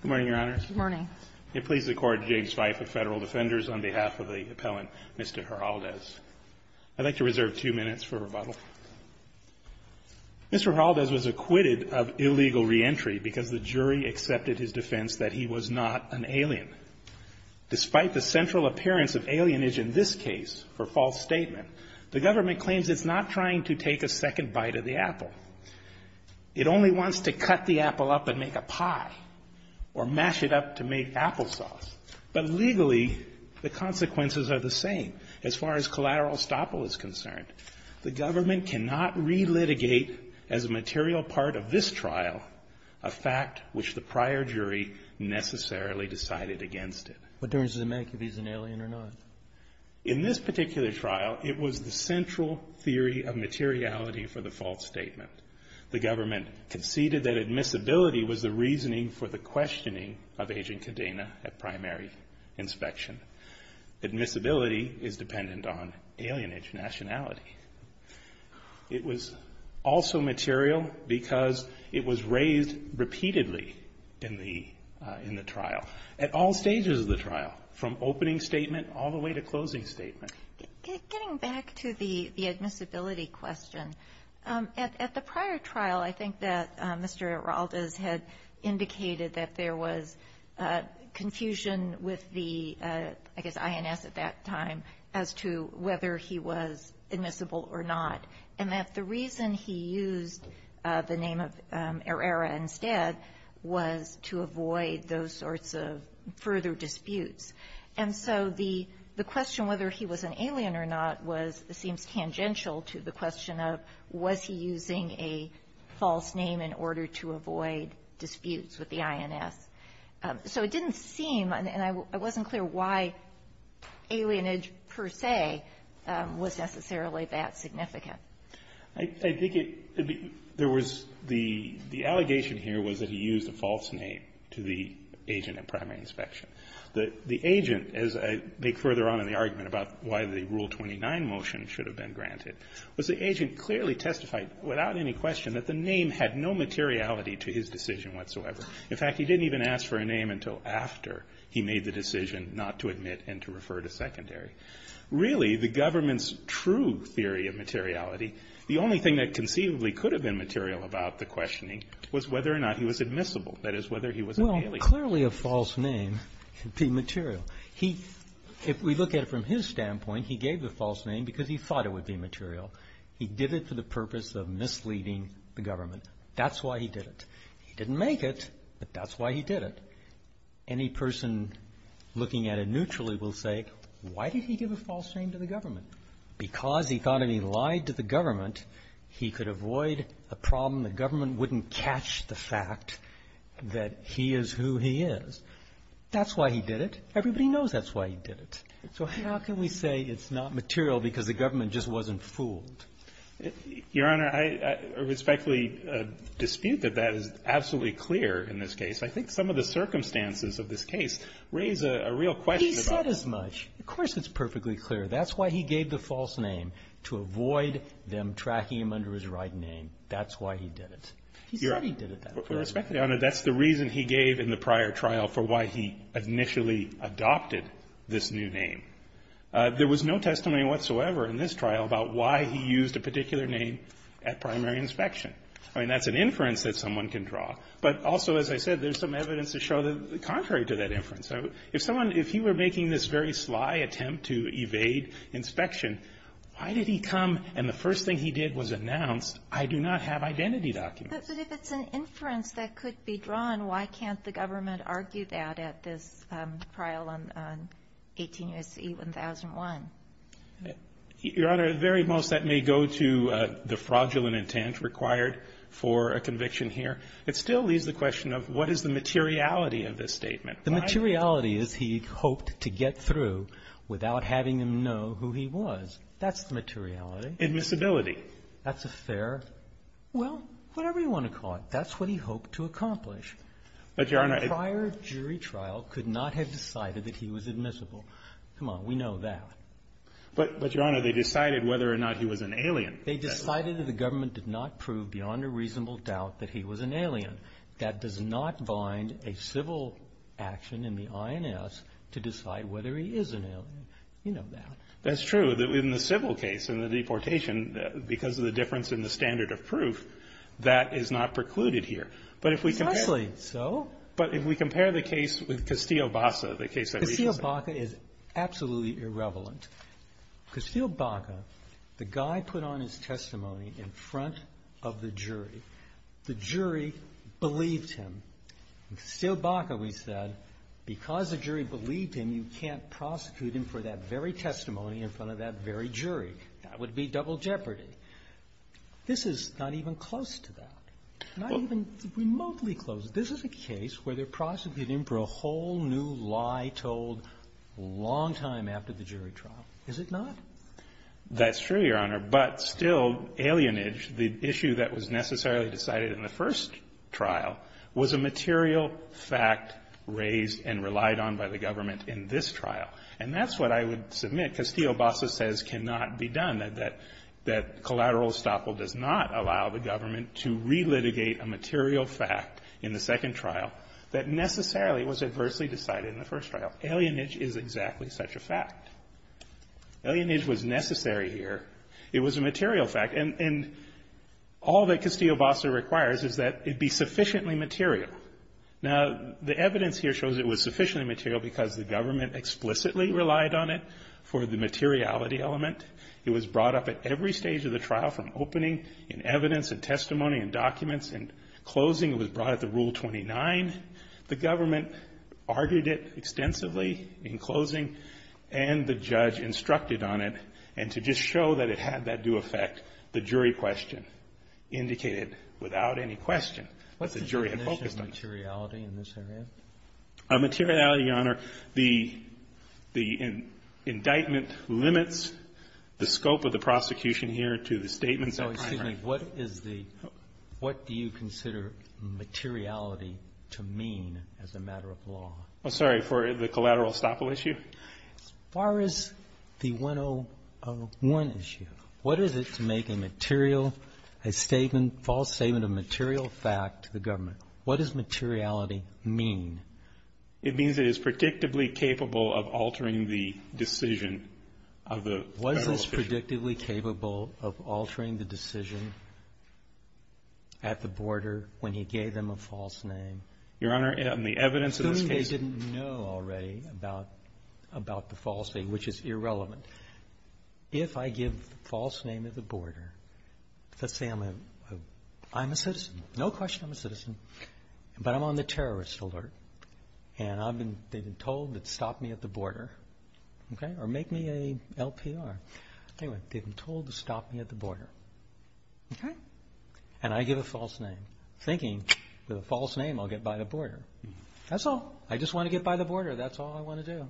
Good morning, Your Honor. Good morning. It pleases the Court, James Fife of Federal Defenders, on behalf of the appellant, Mr. Heraldez. I'd like to reserve two minutes for rebuttal. Mr. Heraldez was acquitted of illegal reentry because the jury accepted his defense that he was not an alien. Despite the central appearance of alienage in this case for false statement, the government claims it's not trying to take a second bite of the apple. It only wants to cut the apple up and make a pie or mash it up to make applesauce. But legally, the consequences are the same as far as collateral estoppel is concerned. The government cannot relitigate as a material part of this trial a fact which the prior jury necessarily decided against it. What difference does it make if he's an alien or not? In this particular trial, it was the central theory of materiality for the false statement. The government conceded that admissibility was the reasoning for the questioning of Agent Cadena at primary inspection. Admissibility is dependent on alienage nationality. It was also material because it was raised repeatedly in the trial, at all stages of the trial, from opening statement all the way to closing statement. Getting back to the admissibility question, at the prior trial, I think that Mr. Heraldez had indicated that there was confusion with the, I guess, INS at that time as to whether he was admissible or not, and that the reason he used the name of Herrera instead was to avoid those sorts of further disputes. And so the question whether he was an alien or not was, seems tangential to the question of was he using a false name in order to avoid disputes with the INS. So it didn't seem, and I wasn't clear why alienage per se was necessarily that significant. I think it, there was, the allegation here was that he used a false name to the agent at primary inspection. The agent, as I make further on in the argument about why the Rule 29 motion should have been granted, was the agent clearly testified without any question that the name had no materiality to his decision whatsoever. In fact, he didn't even ask for a name until after he made the decision not to admit and to refer to secondary. Really, the government's true theory of materiality, the only thing that conceivably could have been material about the questioning was whether or not he was admissible, that is, whether he was an alien. Well, clearly a false name would be material. He, if we look at it from his standpoint, he gave the false name because he thought it would be material. He did it for the purpose of misleading the government. That's why he did it. He didn't make it, but that's why he did it. Any person looking at it neutrally will say, why did he give a false name to the government? Because he thought if he lied to the government, he could avoid a problem. The government wouldn't catch the fact that he is who he is. That's why he did it. Everybody knows that's why he did it. So how can we say it's not material because the government just wasn't fooled? Your Honor, I respectfully dispute that that is absolutely clear in this case. I think some of the circumstances of this case raise a real question. He said as much. Of course it's perfectly clear. That's why he gave the false name, to avoid them tracking him under his right name. That's why he did it. He said he did it that way. Your Honor, respectfully, that's the reason he gave in the prior trial for why he initially adopted this new name. There was no testimony whatsoever in this trial about why he used a particular name at primary inspection. I mean, that's an inference that someone can draw. But also, as I said, there's some evidence to show that contrary to that inference. If someone, if he were making this very sly attempt to evade inspection, why did he come and the first thing he did was announce, I do not have identity documents? But if it's an inference that could be drawn, why can't the government argue that at this trial on 18 U.S.C. 1001? Your Honor, at the very most, that may go to the fraudulent intent required for a conviction here. It still leaves the question of what is the materiality of this statement? The materiality is he hoped to get through without having them know who he was. That's the materiality. Admissibility. That's a fair, well, whatever you want to call it. But that's what he hoped to accomplish. But, Your Honor, if the prior jury trial could not have decided that he was admissible, come on, we know that. But, Your Honor, they decided whether or not he was an alien. They decided that the government did not prove beyond a reasonable doubt that he was an alien. That does not bind a civil action in the INS to decide whether he is an alien. You know that. That's true. In the civil case, in the deportation, because of the difference in the standard of proof, that is not precluded here. But if we compare the case with Castillo-Baca, the case that we just saw. Castillo-Baca is absolutely irreverent. Castillo-Baca, the guy put on his testimony in front of the jury. The jury believed him. In Castillo-Baca, we said, because the jury believed him, you can't prosecute him for that very testimony in front of that very jury. That would be double jeopardy. This is not even close to that. Not even remotely close. This is a case where they're prosecuting for a whole new lie told a long time after the jury trial. Is it not? That's true, Your Honor. But still, alienage, the issue that was necessarily decided in the first trial, was a material fact raised and relied on by the government in this trial. And that's what I would submit Castillo-Baca says cannot be done. That collateral estoppel does not allow the government to relitigate a material fact in the second trial that necessarily was adversely decided in the first trial. Alienage is exactly such a fact. Alienage was necessary here. It was a material fact. And all that Castillo-Baca requires is that it be sufficiently material. Now, the evidence here shows it was sufficiently material because the government explicitly relied on it for the materiality element. It was brought up at every stage of the trial, from opening, and evidence, and testimony, and documents, and closing. It was brought at the Rule 29. The government argued it extensively in closing, and the judge instructed on it, and to just show that it had that due effect, the jury question indicated without any question that the jury had focused on it. What's the definition of materiality in this area? Materiality, Your Honor, the indictment limits the scope of the prosecution here to the statements that are primary. Oh, excuse me. What is the what do you consider materiality to mean as a matter of law? Oh, sorry. For the collateral estoppel issue? It's a false statement of material fact to the government. What does materiality mean? It means it is predictably capable of altering the decision of the Federal official. Was this predictably capable of altering the decision at the border when he gave them a false name? Your Honor, in the evidence of this case ---- Assuming they didn't know already about the false name, which is irrelevant. If I give a false name at the border, let's say I'm a citizen. No question I'm a citizen, but I'm on the terrorist alert, and they've been told to stop me at the border or make me a LPR. Anyway, they've been told to stop me at the border, and I give a false name, thinking with a false name I'll get by the border. That's all. I just want to get by the border. That's all I want to do.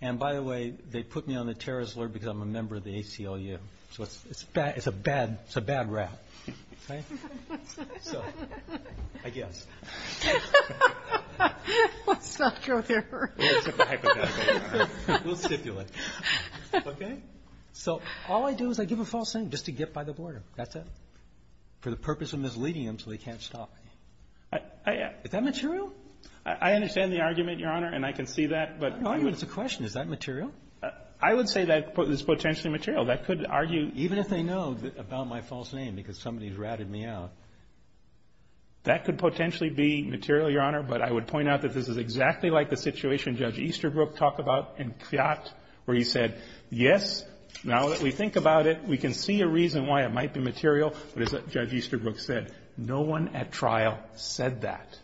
And, by the way, they put me on the terrorist alert because I'm a member of the ACLU. So it's a bad rap. Right? So I guess. Let's not go there. We'll stipulate. Okay? So all I do is I give a false name just to get by the border. That's it. For the purpose of misleading them so they can't stop me. Is that material? I understand the argument, Your Honor, and I can see that. The argument is a question. Is that material? I would say that it's potentially material. That could argue. Even if they know about my false name because somebody's ratted me out. That could potentially be material, Your Honor. But I would point out that this is exactly like the situation Judge Easterbrook talked about in Fiat where he said, yes, now that we think about it, we can see a reason why it might be material. But as Judge Easterbrook said, no one at trial said that.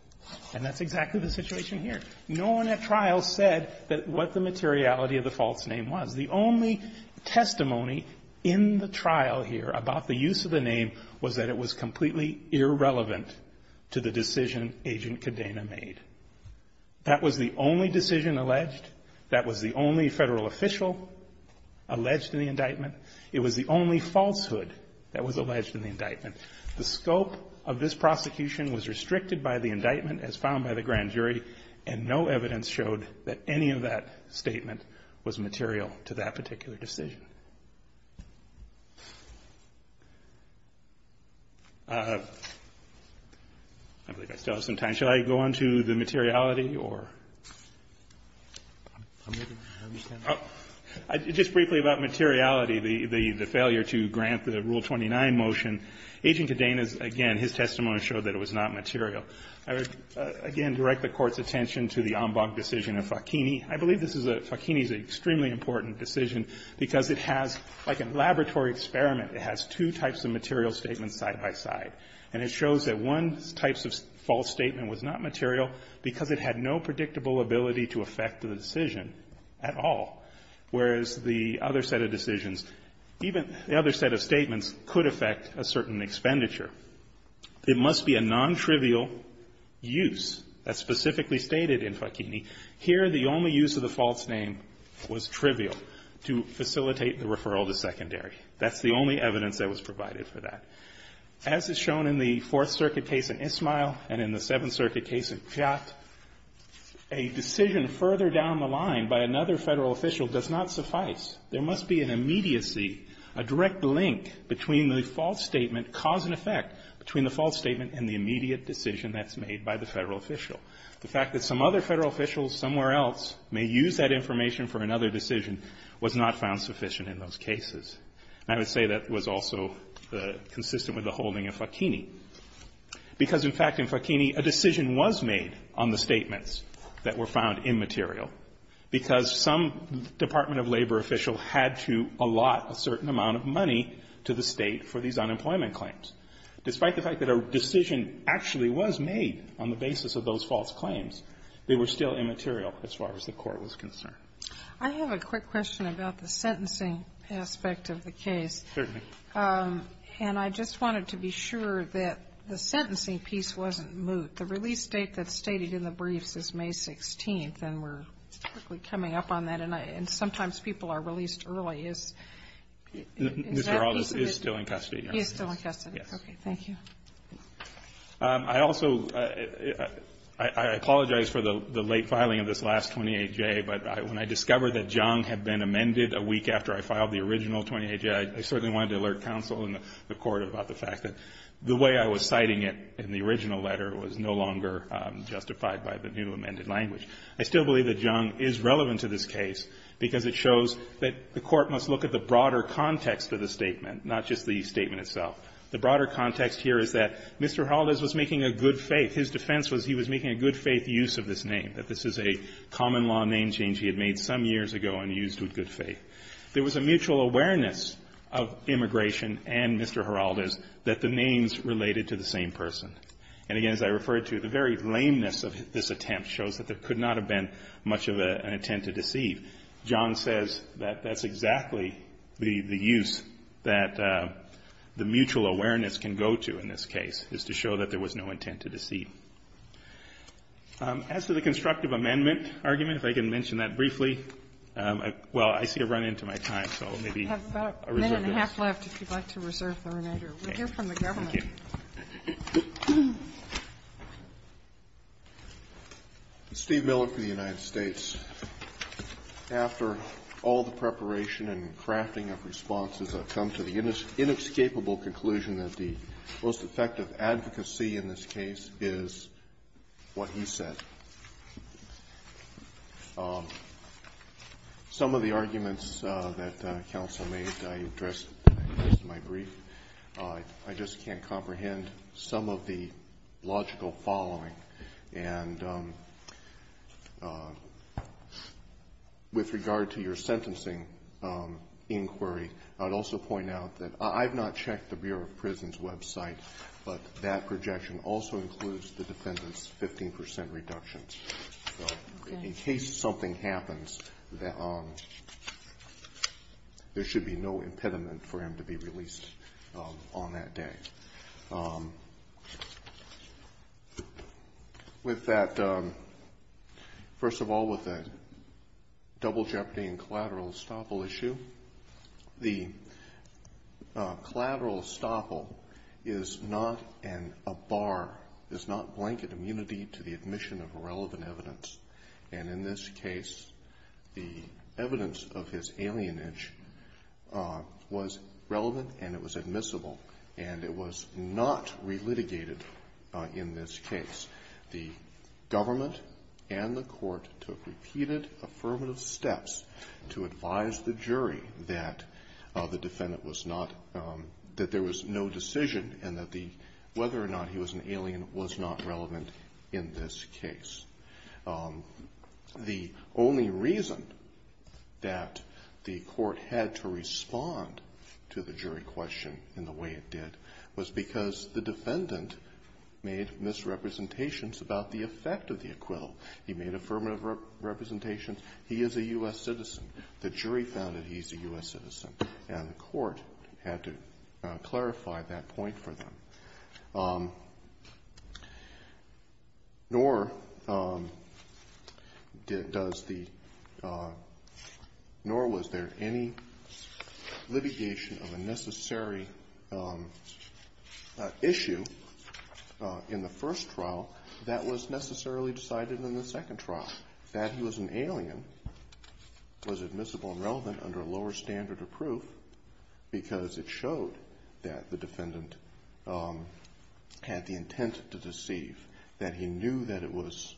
And that's exactly the situation here. No one at trial said what the materiality of the false name was. The only testimony in the trial here about the use of the name was that it was completely irrelevant to the decision Agent Cadena made. That was the only decision alleged. That was the only Federal official alleged in the indictment. It was the only falsehood that was alleged in the indictment. The scope of this prosecution was restricted by the indictment as found by the grand jury, and no evidence showed that any of that statement was material to that particular decision. I believe I still have some time. Shall I go on to the materiality or? Just briefly about materiality, the failure to grant the Rule 29 motion. Agent Cadena's, again, his testimony showed that it was not material. I would, again, direct the Court's attention to the Ambach decision of Facchini. I believe this is a Facchini's extremely important decision because it has, like a laboratory experiment, it has two types of material statements side by side. And it shows that one type of false statement was not material because it had no predictable ability to affect the decision at all, whereas the other set of decisions, even the other set of statements could affect a certain expenditure. It must be a nontrivial use. That's specifically stated in Facchini. Here, the only use of the false name was trivial to facilitate the referral to secondary. That's the only evidence that was provided for that. As is shown in the Fourth Circuit case in Ismail and in the Seventh Circuit case in Piat, a decision further down the line by another Federal official does not suffice. There must be an immediacy, a direct link between the false statement, cause and effect, between the false statement and the immediate decision that's made by the Federal official. The fact that some other Federal official somewhere else may use that information for another decision was not found sufficient in those cases. And I would say that was also consistent with the holding of Facchini. Because, in fact, in Facchini, a decision was made on the statements that were found immaterial because some Department of Labor official had to allot a certain amount of money to the State for these unemployment claims. Despite the fact that a decision actually was made on the basis of those false claims, they were still immaterial as far as the Court was concerned. I have a quick question about the sentencing aspect of the case. Certainly. And I just wanted to be sure that the sentencing piece wasn't moot. The release date that's stated in the briefs is May 16th, and we're quickly coming up on that. And sometimes people are released early. Is that piece of it? Mr. Harrell is still in custody. He is still in custody. Yes. Okay. Thank you. I also apologize for the late filing of this last 28J, but when I discovered that Jung had been amended a week after I filed the original 28J, I certainly wanted to alert counsel and the Court about the fact that the way I was citing it in the original letter was no longer justified by the new amended language. I still believe that Jung is relevant to this case because it shows that the Court must look at the broader context of the statement, not just the statement itself. The broader context here is that Mr. Haldas was making a good faith. His defense was he was making a good faith use of this name, that this is a common law name change he had made some years ago and used with good faith. There was a mutual awareness of immigration and Mr. Haldas that the names related to the same person. And, again, as I referred to, the very lameness of this attempt shows that there could not have been much of an intent to deceive. Jung says that that's exactly the use that the mutual awareness can go to in this case, is to show that there was no intent to deceive. As to the constructive amendment argument, if I can mention that briefly. Well, I see a run-in to my time, so maybe I'll reserve this. We have about a minute and a half left if you'd like to reserve the remainder. We'll hear from the government. Thank you. Steve Miller for the United States. After all the preparation and crafting of responses, I've come to the inescapable conclusion that the most effective advocacy in this case is what he said. Some of the arguments that counsel made I addressed in my brief. I just can't comprehend some of the logical following. And with regard to your sentencing inquiry, I'd also point out that I've not checked the Bureau of Prisons website, but that projection also includes the defendant's 15% reductions. So in case something happens, there should be no impediment for him to be released on that day. With that, first of all, with the double jeopardy and collateral estoppel issue, the collateral estoppel is not a bar, is not blanket immunity to the admission of irrelevant evidence. And in this case, the evidence of his alienage was relevant and it was admissible, and it was not relitigated in this case. The government and the court took repeated affirmative steps to advise the jury that the defendant was not, that there was no decision and that whether or not he was an alien was not relevant in this case. The only reason that the court had to respond to the jury question in the way it did was because the defendant made misrepresentations about the effect of the acquittal. He made affirmative representations. He is a U.S. citizen. The jury found that he's a U.S. citizen, and the court had to clarify that point for them. Nor does the ñ nor was there any litigation of a necessary issue in the first trial that was necessarily decided in the second trial. That he was an alien was admissible and relevant under a lower standard of proof because it showed that the defendant had the intent to deceive, that he knew that it was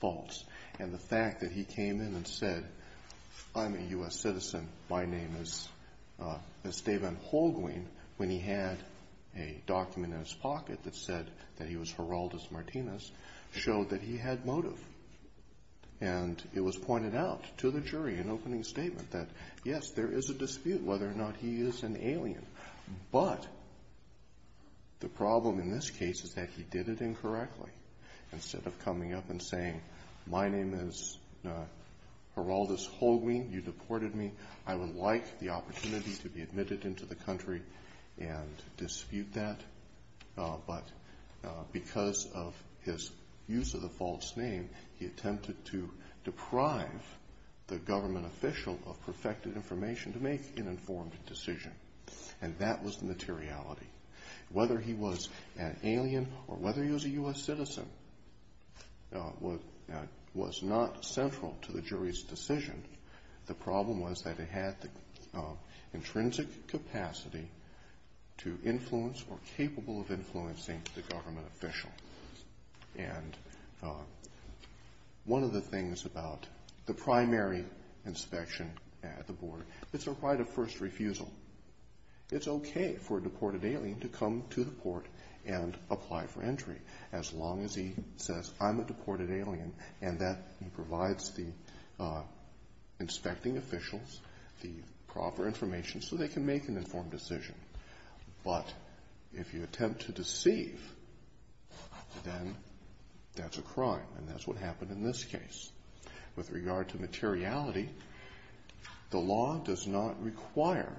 false. And the fact that he came in and said, I'm a U.S. citizen, my name is Esteban Holguin, when he had a document in his pocket that said that he was Geraldo Martinez, showed that he had motive. And it was pointed out to the jury in opening statement that, yes, there is a dispute whether or not he is an alien, but the problem in this case is that he did it incorrectly. Instead of coming up and saying, my name is Geraldo Holguin, you deported me, I would like the opportunity to be admitted into the country and dispute that. But because of his use of the false name, he attempted to deprive the government official of perfected information to make an informed decision. And that was the materiality. Whether he was an alien or whether he was a U.S. citizen was not central to the jury's decision. The problem was that it had the intrinsic capacity to influence or capable of influencing the government official. And one of the things about the primary inspection at the board, it's a right of first refusal. It's okay for a deported alien to come to the court and apply for entry as long as he says, I'm a deported alien, and that he provides the inspecting officials the proper information so they can make an informed decision. But if you attempt to deceive, then that's a crime, and that's what happened in this case. With regard to materiality, the law does not require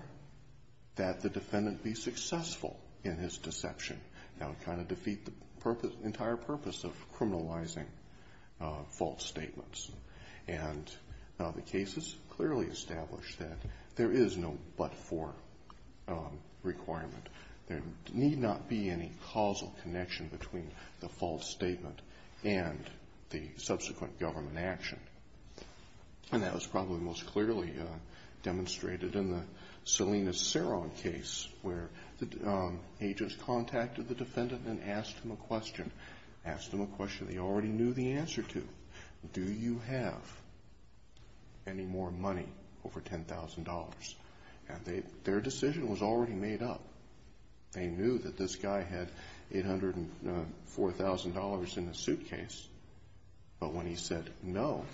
that the defendant be successful in his deception. That would kind of defeat the entire purpose of criminalizing false statements. And the case has clearly established that there is no but-for requirement. There need not be any causal connection between the false statement and the subsequent government action. And that was probably most clearly demonstrated in the Salinas-Ceron case, where the agents contacted the defendant and asked him a question. Asked him a question they already knew the answer to. Do you have any more money over $10,000? And their decision was already made up. They knew that this guy had $804,000 in the suitcase. But when he said no,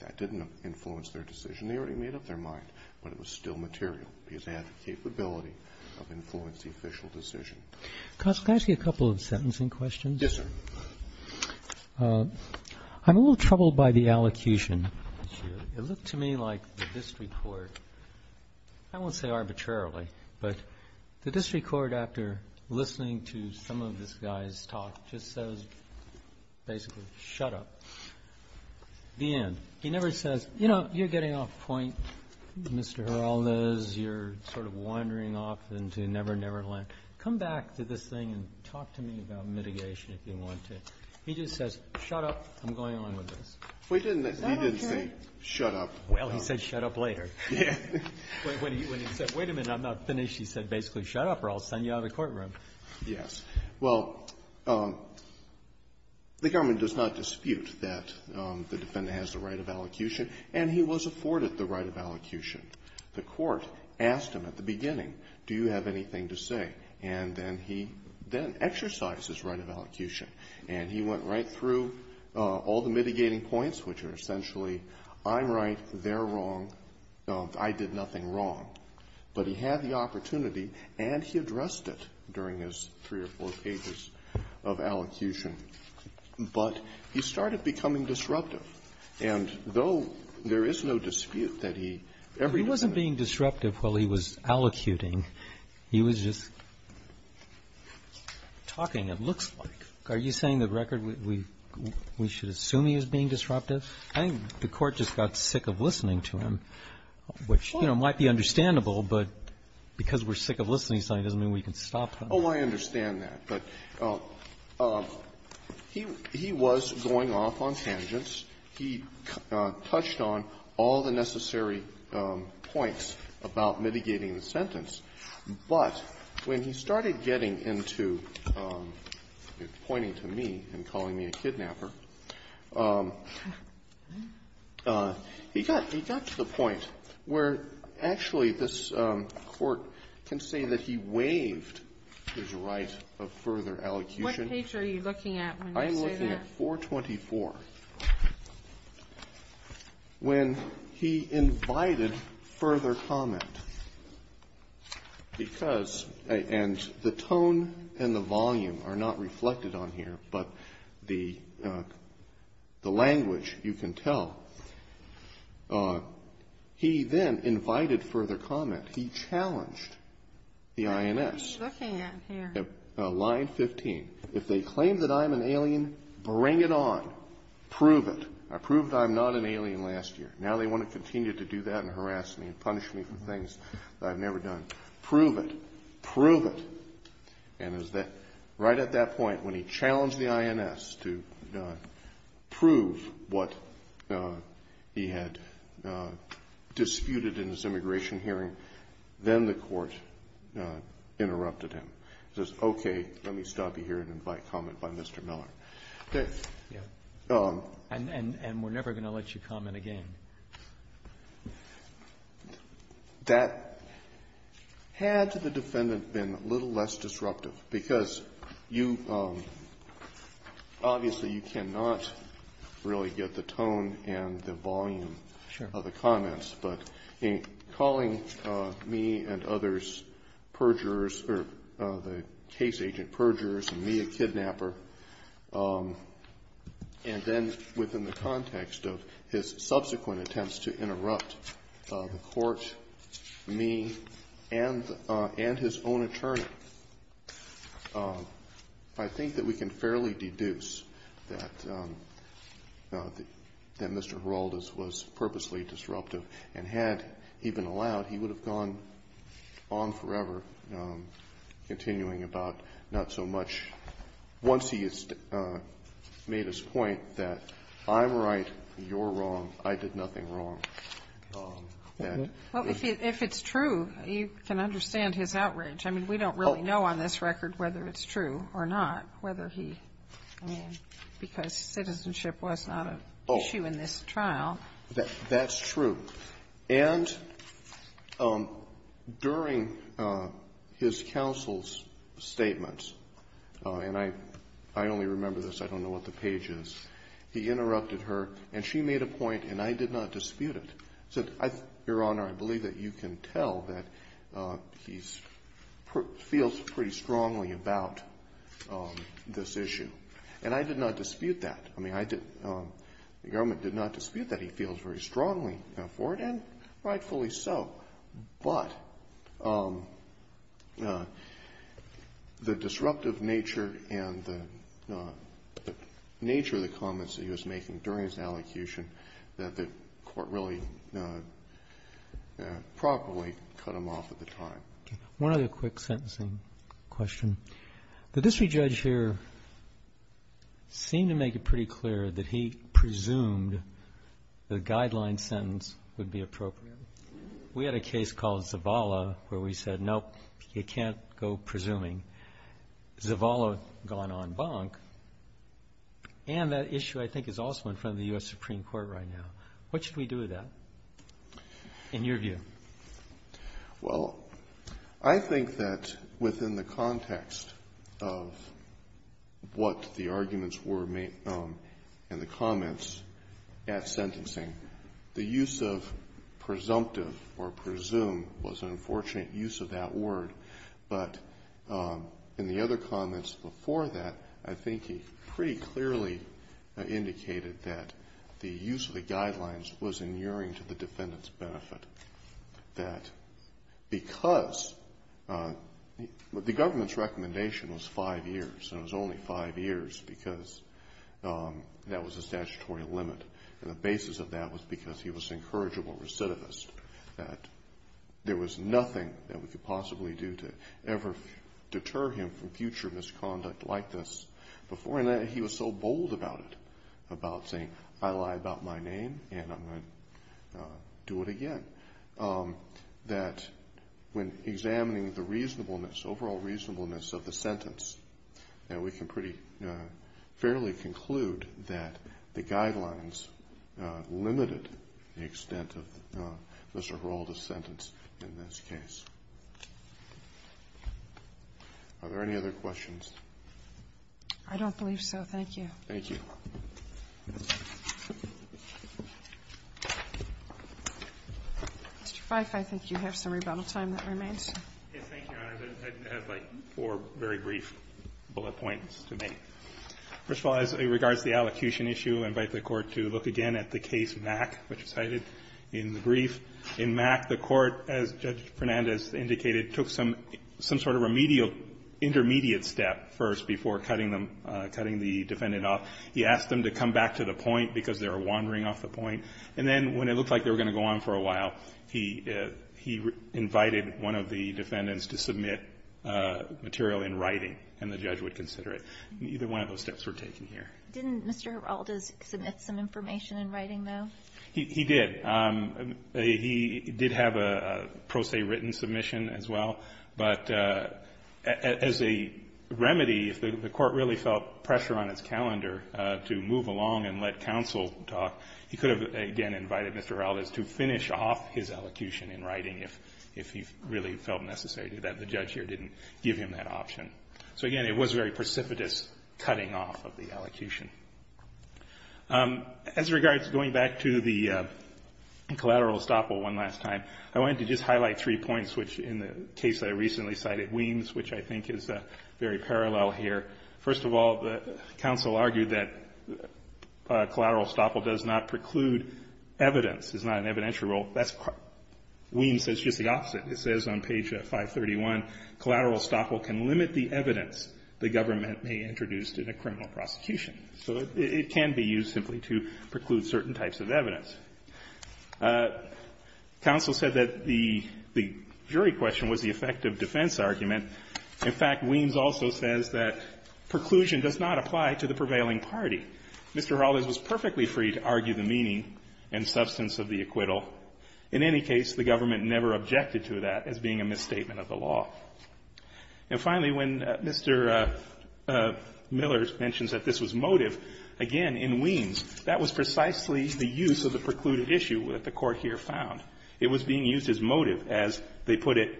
that didn't influence their decision. They already made up their mind. But it was still material because they had the capability of influencing the official decision. Can I ask you a couple of sentencing questions? Yes, sir. I'm a little troubled by the allocution issue. It looked to me like the district court, I won't say arbitrarily, but the district court, after listening to some of this guy's talk, just says basically, shut up. The end. He never says, you know, you're getting off point, Mr. Giraldo, you're sort of wandering off into never, never land. Come back to this thing and talk to me about mitigation if you want to. He just says, shut up. I'm going on with this. He didn't say, shut up. Well, he said, shut up later. When he said, wait a minute, I'm not finished, he said basically, shut up or I'll send you out of the courtroom. Yes. Well, the government does not dispute that the defendant has the right of allocution. And he was afforded the right of allocution. The court asked him at the beginning, do you have anything to say? And then he then exercised his right of allocution. And he went right through all the mitigating points, which are essentially, I'm right, they're wrong, I did nothing wrong. But he had the opportunity, and he addressed it during his three or four pages of allocution. But he started becoming disruptive. And though there is no dispute that he every time he was being disruptive while he was allocuting, he was just talking, it looks like. Are you saying the record, we should assume he was being disruptive? I think the court just got sick of listening to him, which, you know, might be understandable. But because we're sick of listening, it doesn't mean we can stop him. Oh, I understand that. But he was going off on tangents. He touched on all the necessary points about mitigating the sentence. But when he started getting into pointing to me and calling me a kidnapper, he got to the point where actually this Court can say that he waived his right of further allocution. What page are you looking at when you say that? I'm looking at 424, when he invited further comment. And the tone and the volume are not reflected on here, but the language you can tell. He then invited further comment. He challenged the INS. What are you looking at here? Line 15. If they claim that I'm an alien, bring it on. Prove it. I proved I'm not an alien last year. Now they want to continue to do that and harass me and punish me for things that I've never done. Prove it. Prove it. And right at that point, when he challenged the INS to prove what he had disputed in his immigration hearing, then the Court interrupted him. It says, okay, let me stop you here and invite comment by Mr. Miller. And we're never going to let you comment again. That had to the defendant been a little less disruptive, because you obviously you cannot really get the tone and the volume of the comments. But in calling me and others perjurers or the case agent perjurers and me a kidnapper, and then within the context of his subsequent attempts to interrupt the Court, me, and his own attorney, I think that we can fairly deduce that Mr. Heraldez was purposely disruptive. And had he been allowed, he would have gone on forever, continuing about not so much. Once he has made his point that I'm right, you're wrong, I did nothing wrong. Well, if it's true, you can understand his outrage. I mean, we don't really know on this record whether it's true or not, whether he, I mean, because citizenship was not an issue in this trial. That's true. And during his counsel's statements, and I only remember this. I don't know what the page is. He interrupted her, and she made a point, and I did not dispute it. I said, Your Honor, I believe that you can tell that he feels pretty strongly about this issue. And I did not dispute that. I mean, the government did not dispute that he feels very strongly for it, and rightfully so. But the disruptive nature and the nature of the comments that he was making during his allocution that the Court really properly cut him off at the time. One other quick sentencing question. The district judge here seemed to make it pretty clear that he presumed the guideline sentence would be appropriate. We had a case called Zavala where we said, Nope, you can't go presuming. Zavala gone on bonk. And that issue, I think, is also in front of the U.S. Supreme Court right now. What should we do with that, in your view? Well, I think that within the context of what the arguments were made in the comments at sentencing, the use of presumptive or presume was an unfortunate use of that word. But in the other comments before that, I think he pretty clearly indicated that the use of the because the government's recommendation was five years, and it was only five years because that was a statutory limit. And the basis of that was because he was an incorrigible recidivist, that there was nothing that we could possibly do to ever deter him from future misconduct like this before. And he was so bold about it, about saying, I lie about my name, and I'm going to do it again, that when examining the reasonableness, overall reasonableness of the sentence, that we can pretty fairly conclude that the guidelines limited the extent of Mr. Giroldo's sentence in this case. Are there any other questions? I don't believe so. Thank you. Thank you. Mr. Fife, I think you have some rebuttal time that remains. Yes. Thank you, Your Honors. I have like four very brief bullet points to make. First of all, as it regards the allocution issue, I invite the Court to look again at the case Mack, which was cited in the brief. In Mack, the Court, as Judge Fernandez indicated, took some sort of remedial intermediate step first before cutting them, cutting the defendant off. He asked them to come back to the point because they were wandering off the point. And then when it looked like they were going to go on for a while, he invited one of the defendants to submit material in writing, and the judge would consider it. Neither one of those steps were taken here. Didn't Mr. Giroldo submit some information in writing, though? He did. He did have a pro se written submission as well. But as a remedy, if the Court really felt pressure on its calendar to move along and let counsel talk, he could have, again, invited Mr. Ralles to finish off his allocution in writing if he really felt necessary to do that. The judge here didn't give him that option. So, again, it was very precipitous cutting off of the allocution. As regards going back to the collateral estoppel one last time, I wanted to just say I recently cited Weems, which I think is very parallel here. First of all, counsel argued that collateral estoppel does not preclude evidence. It's not an evidentiary rule. Weems says just the opposite. It says on page 531, collateral estoppel can limit the evidence the government may introduce in a criminal prosecution. Counsel said that the jury question was the effective defense argument. In fact, Weems also says that preclusion does not apply to the prevailing party. Mr. Ralles was perfectly free to argue the meaning and substance of the acquittal. In any case, the government never objected to that as being a misstatement of the law. And finally, when Mr. Miller mentions that this was motive, again, in Weems, that was precisely the use of the precluded issue that the Court here found. It was being used as motive. As they put it,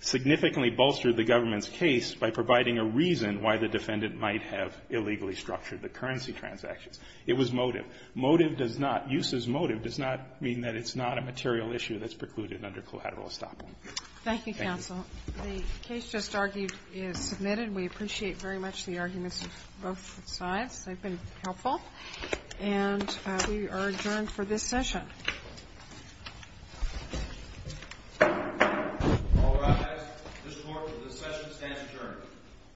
significantly bolstered the government's case by providing a reason why the defendant might have illegally structured the currency transactions. It was motive. Motive does not, use as motive does not mean that it's not a material issue that's precluded under collateral estoppel. Thank you. The case just argued is submitted. We appreciate very much the arguments of both sides. They've been helpful. And we are adjourned for this session. All rise. This Court for this session stands adjourned.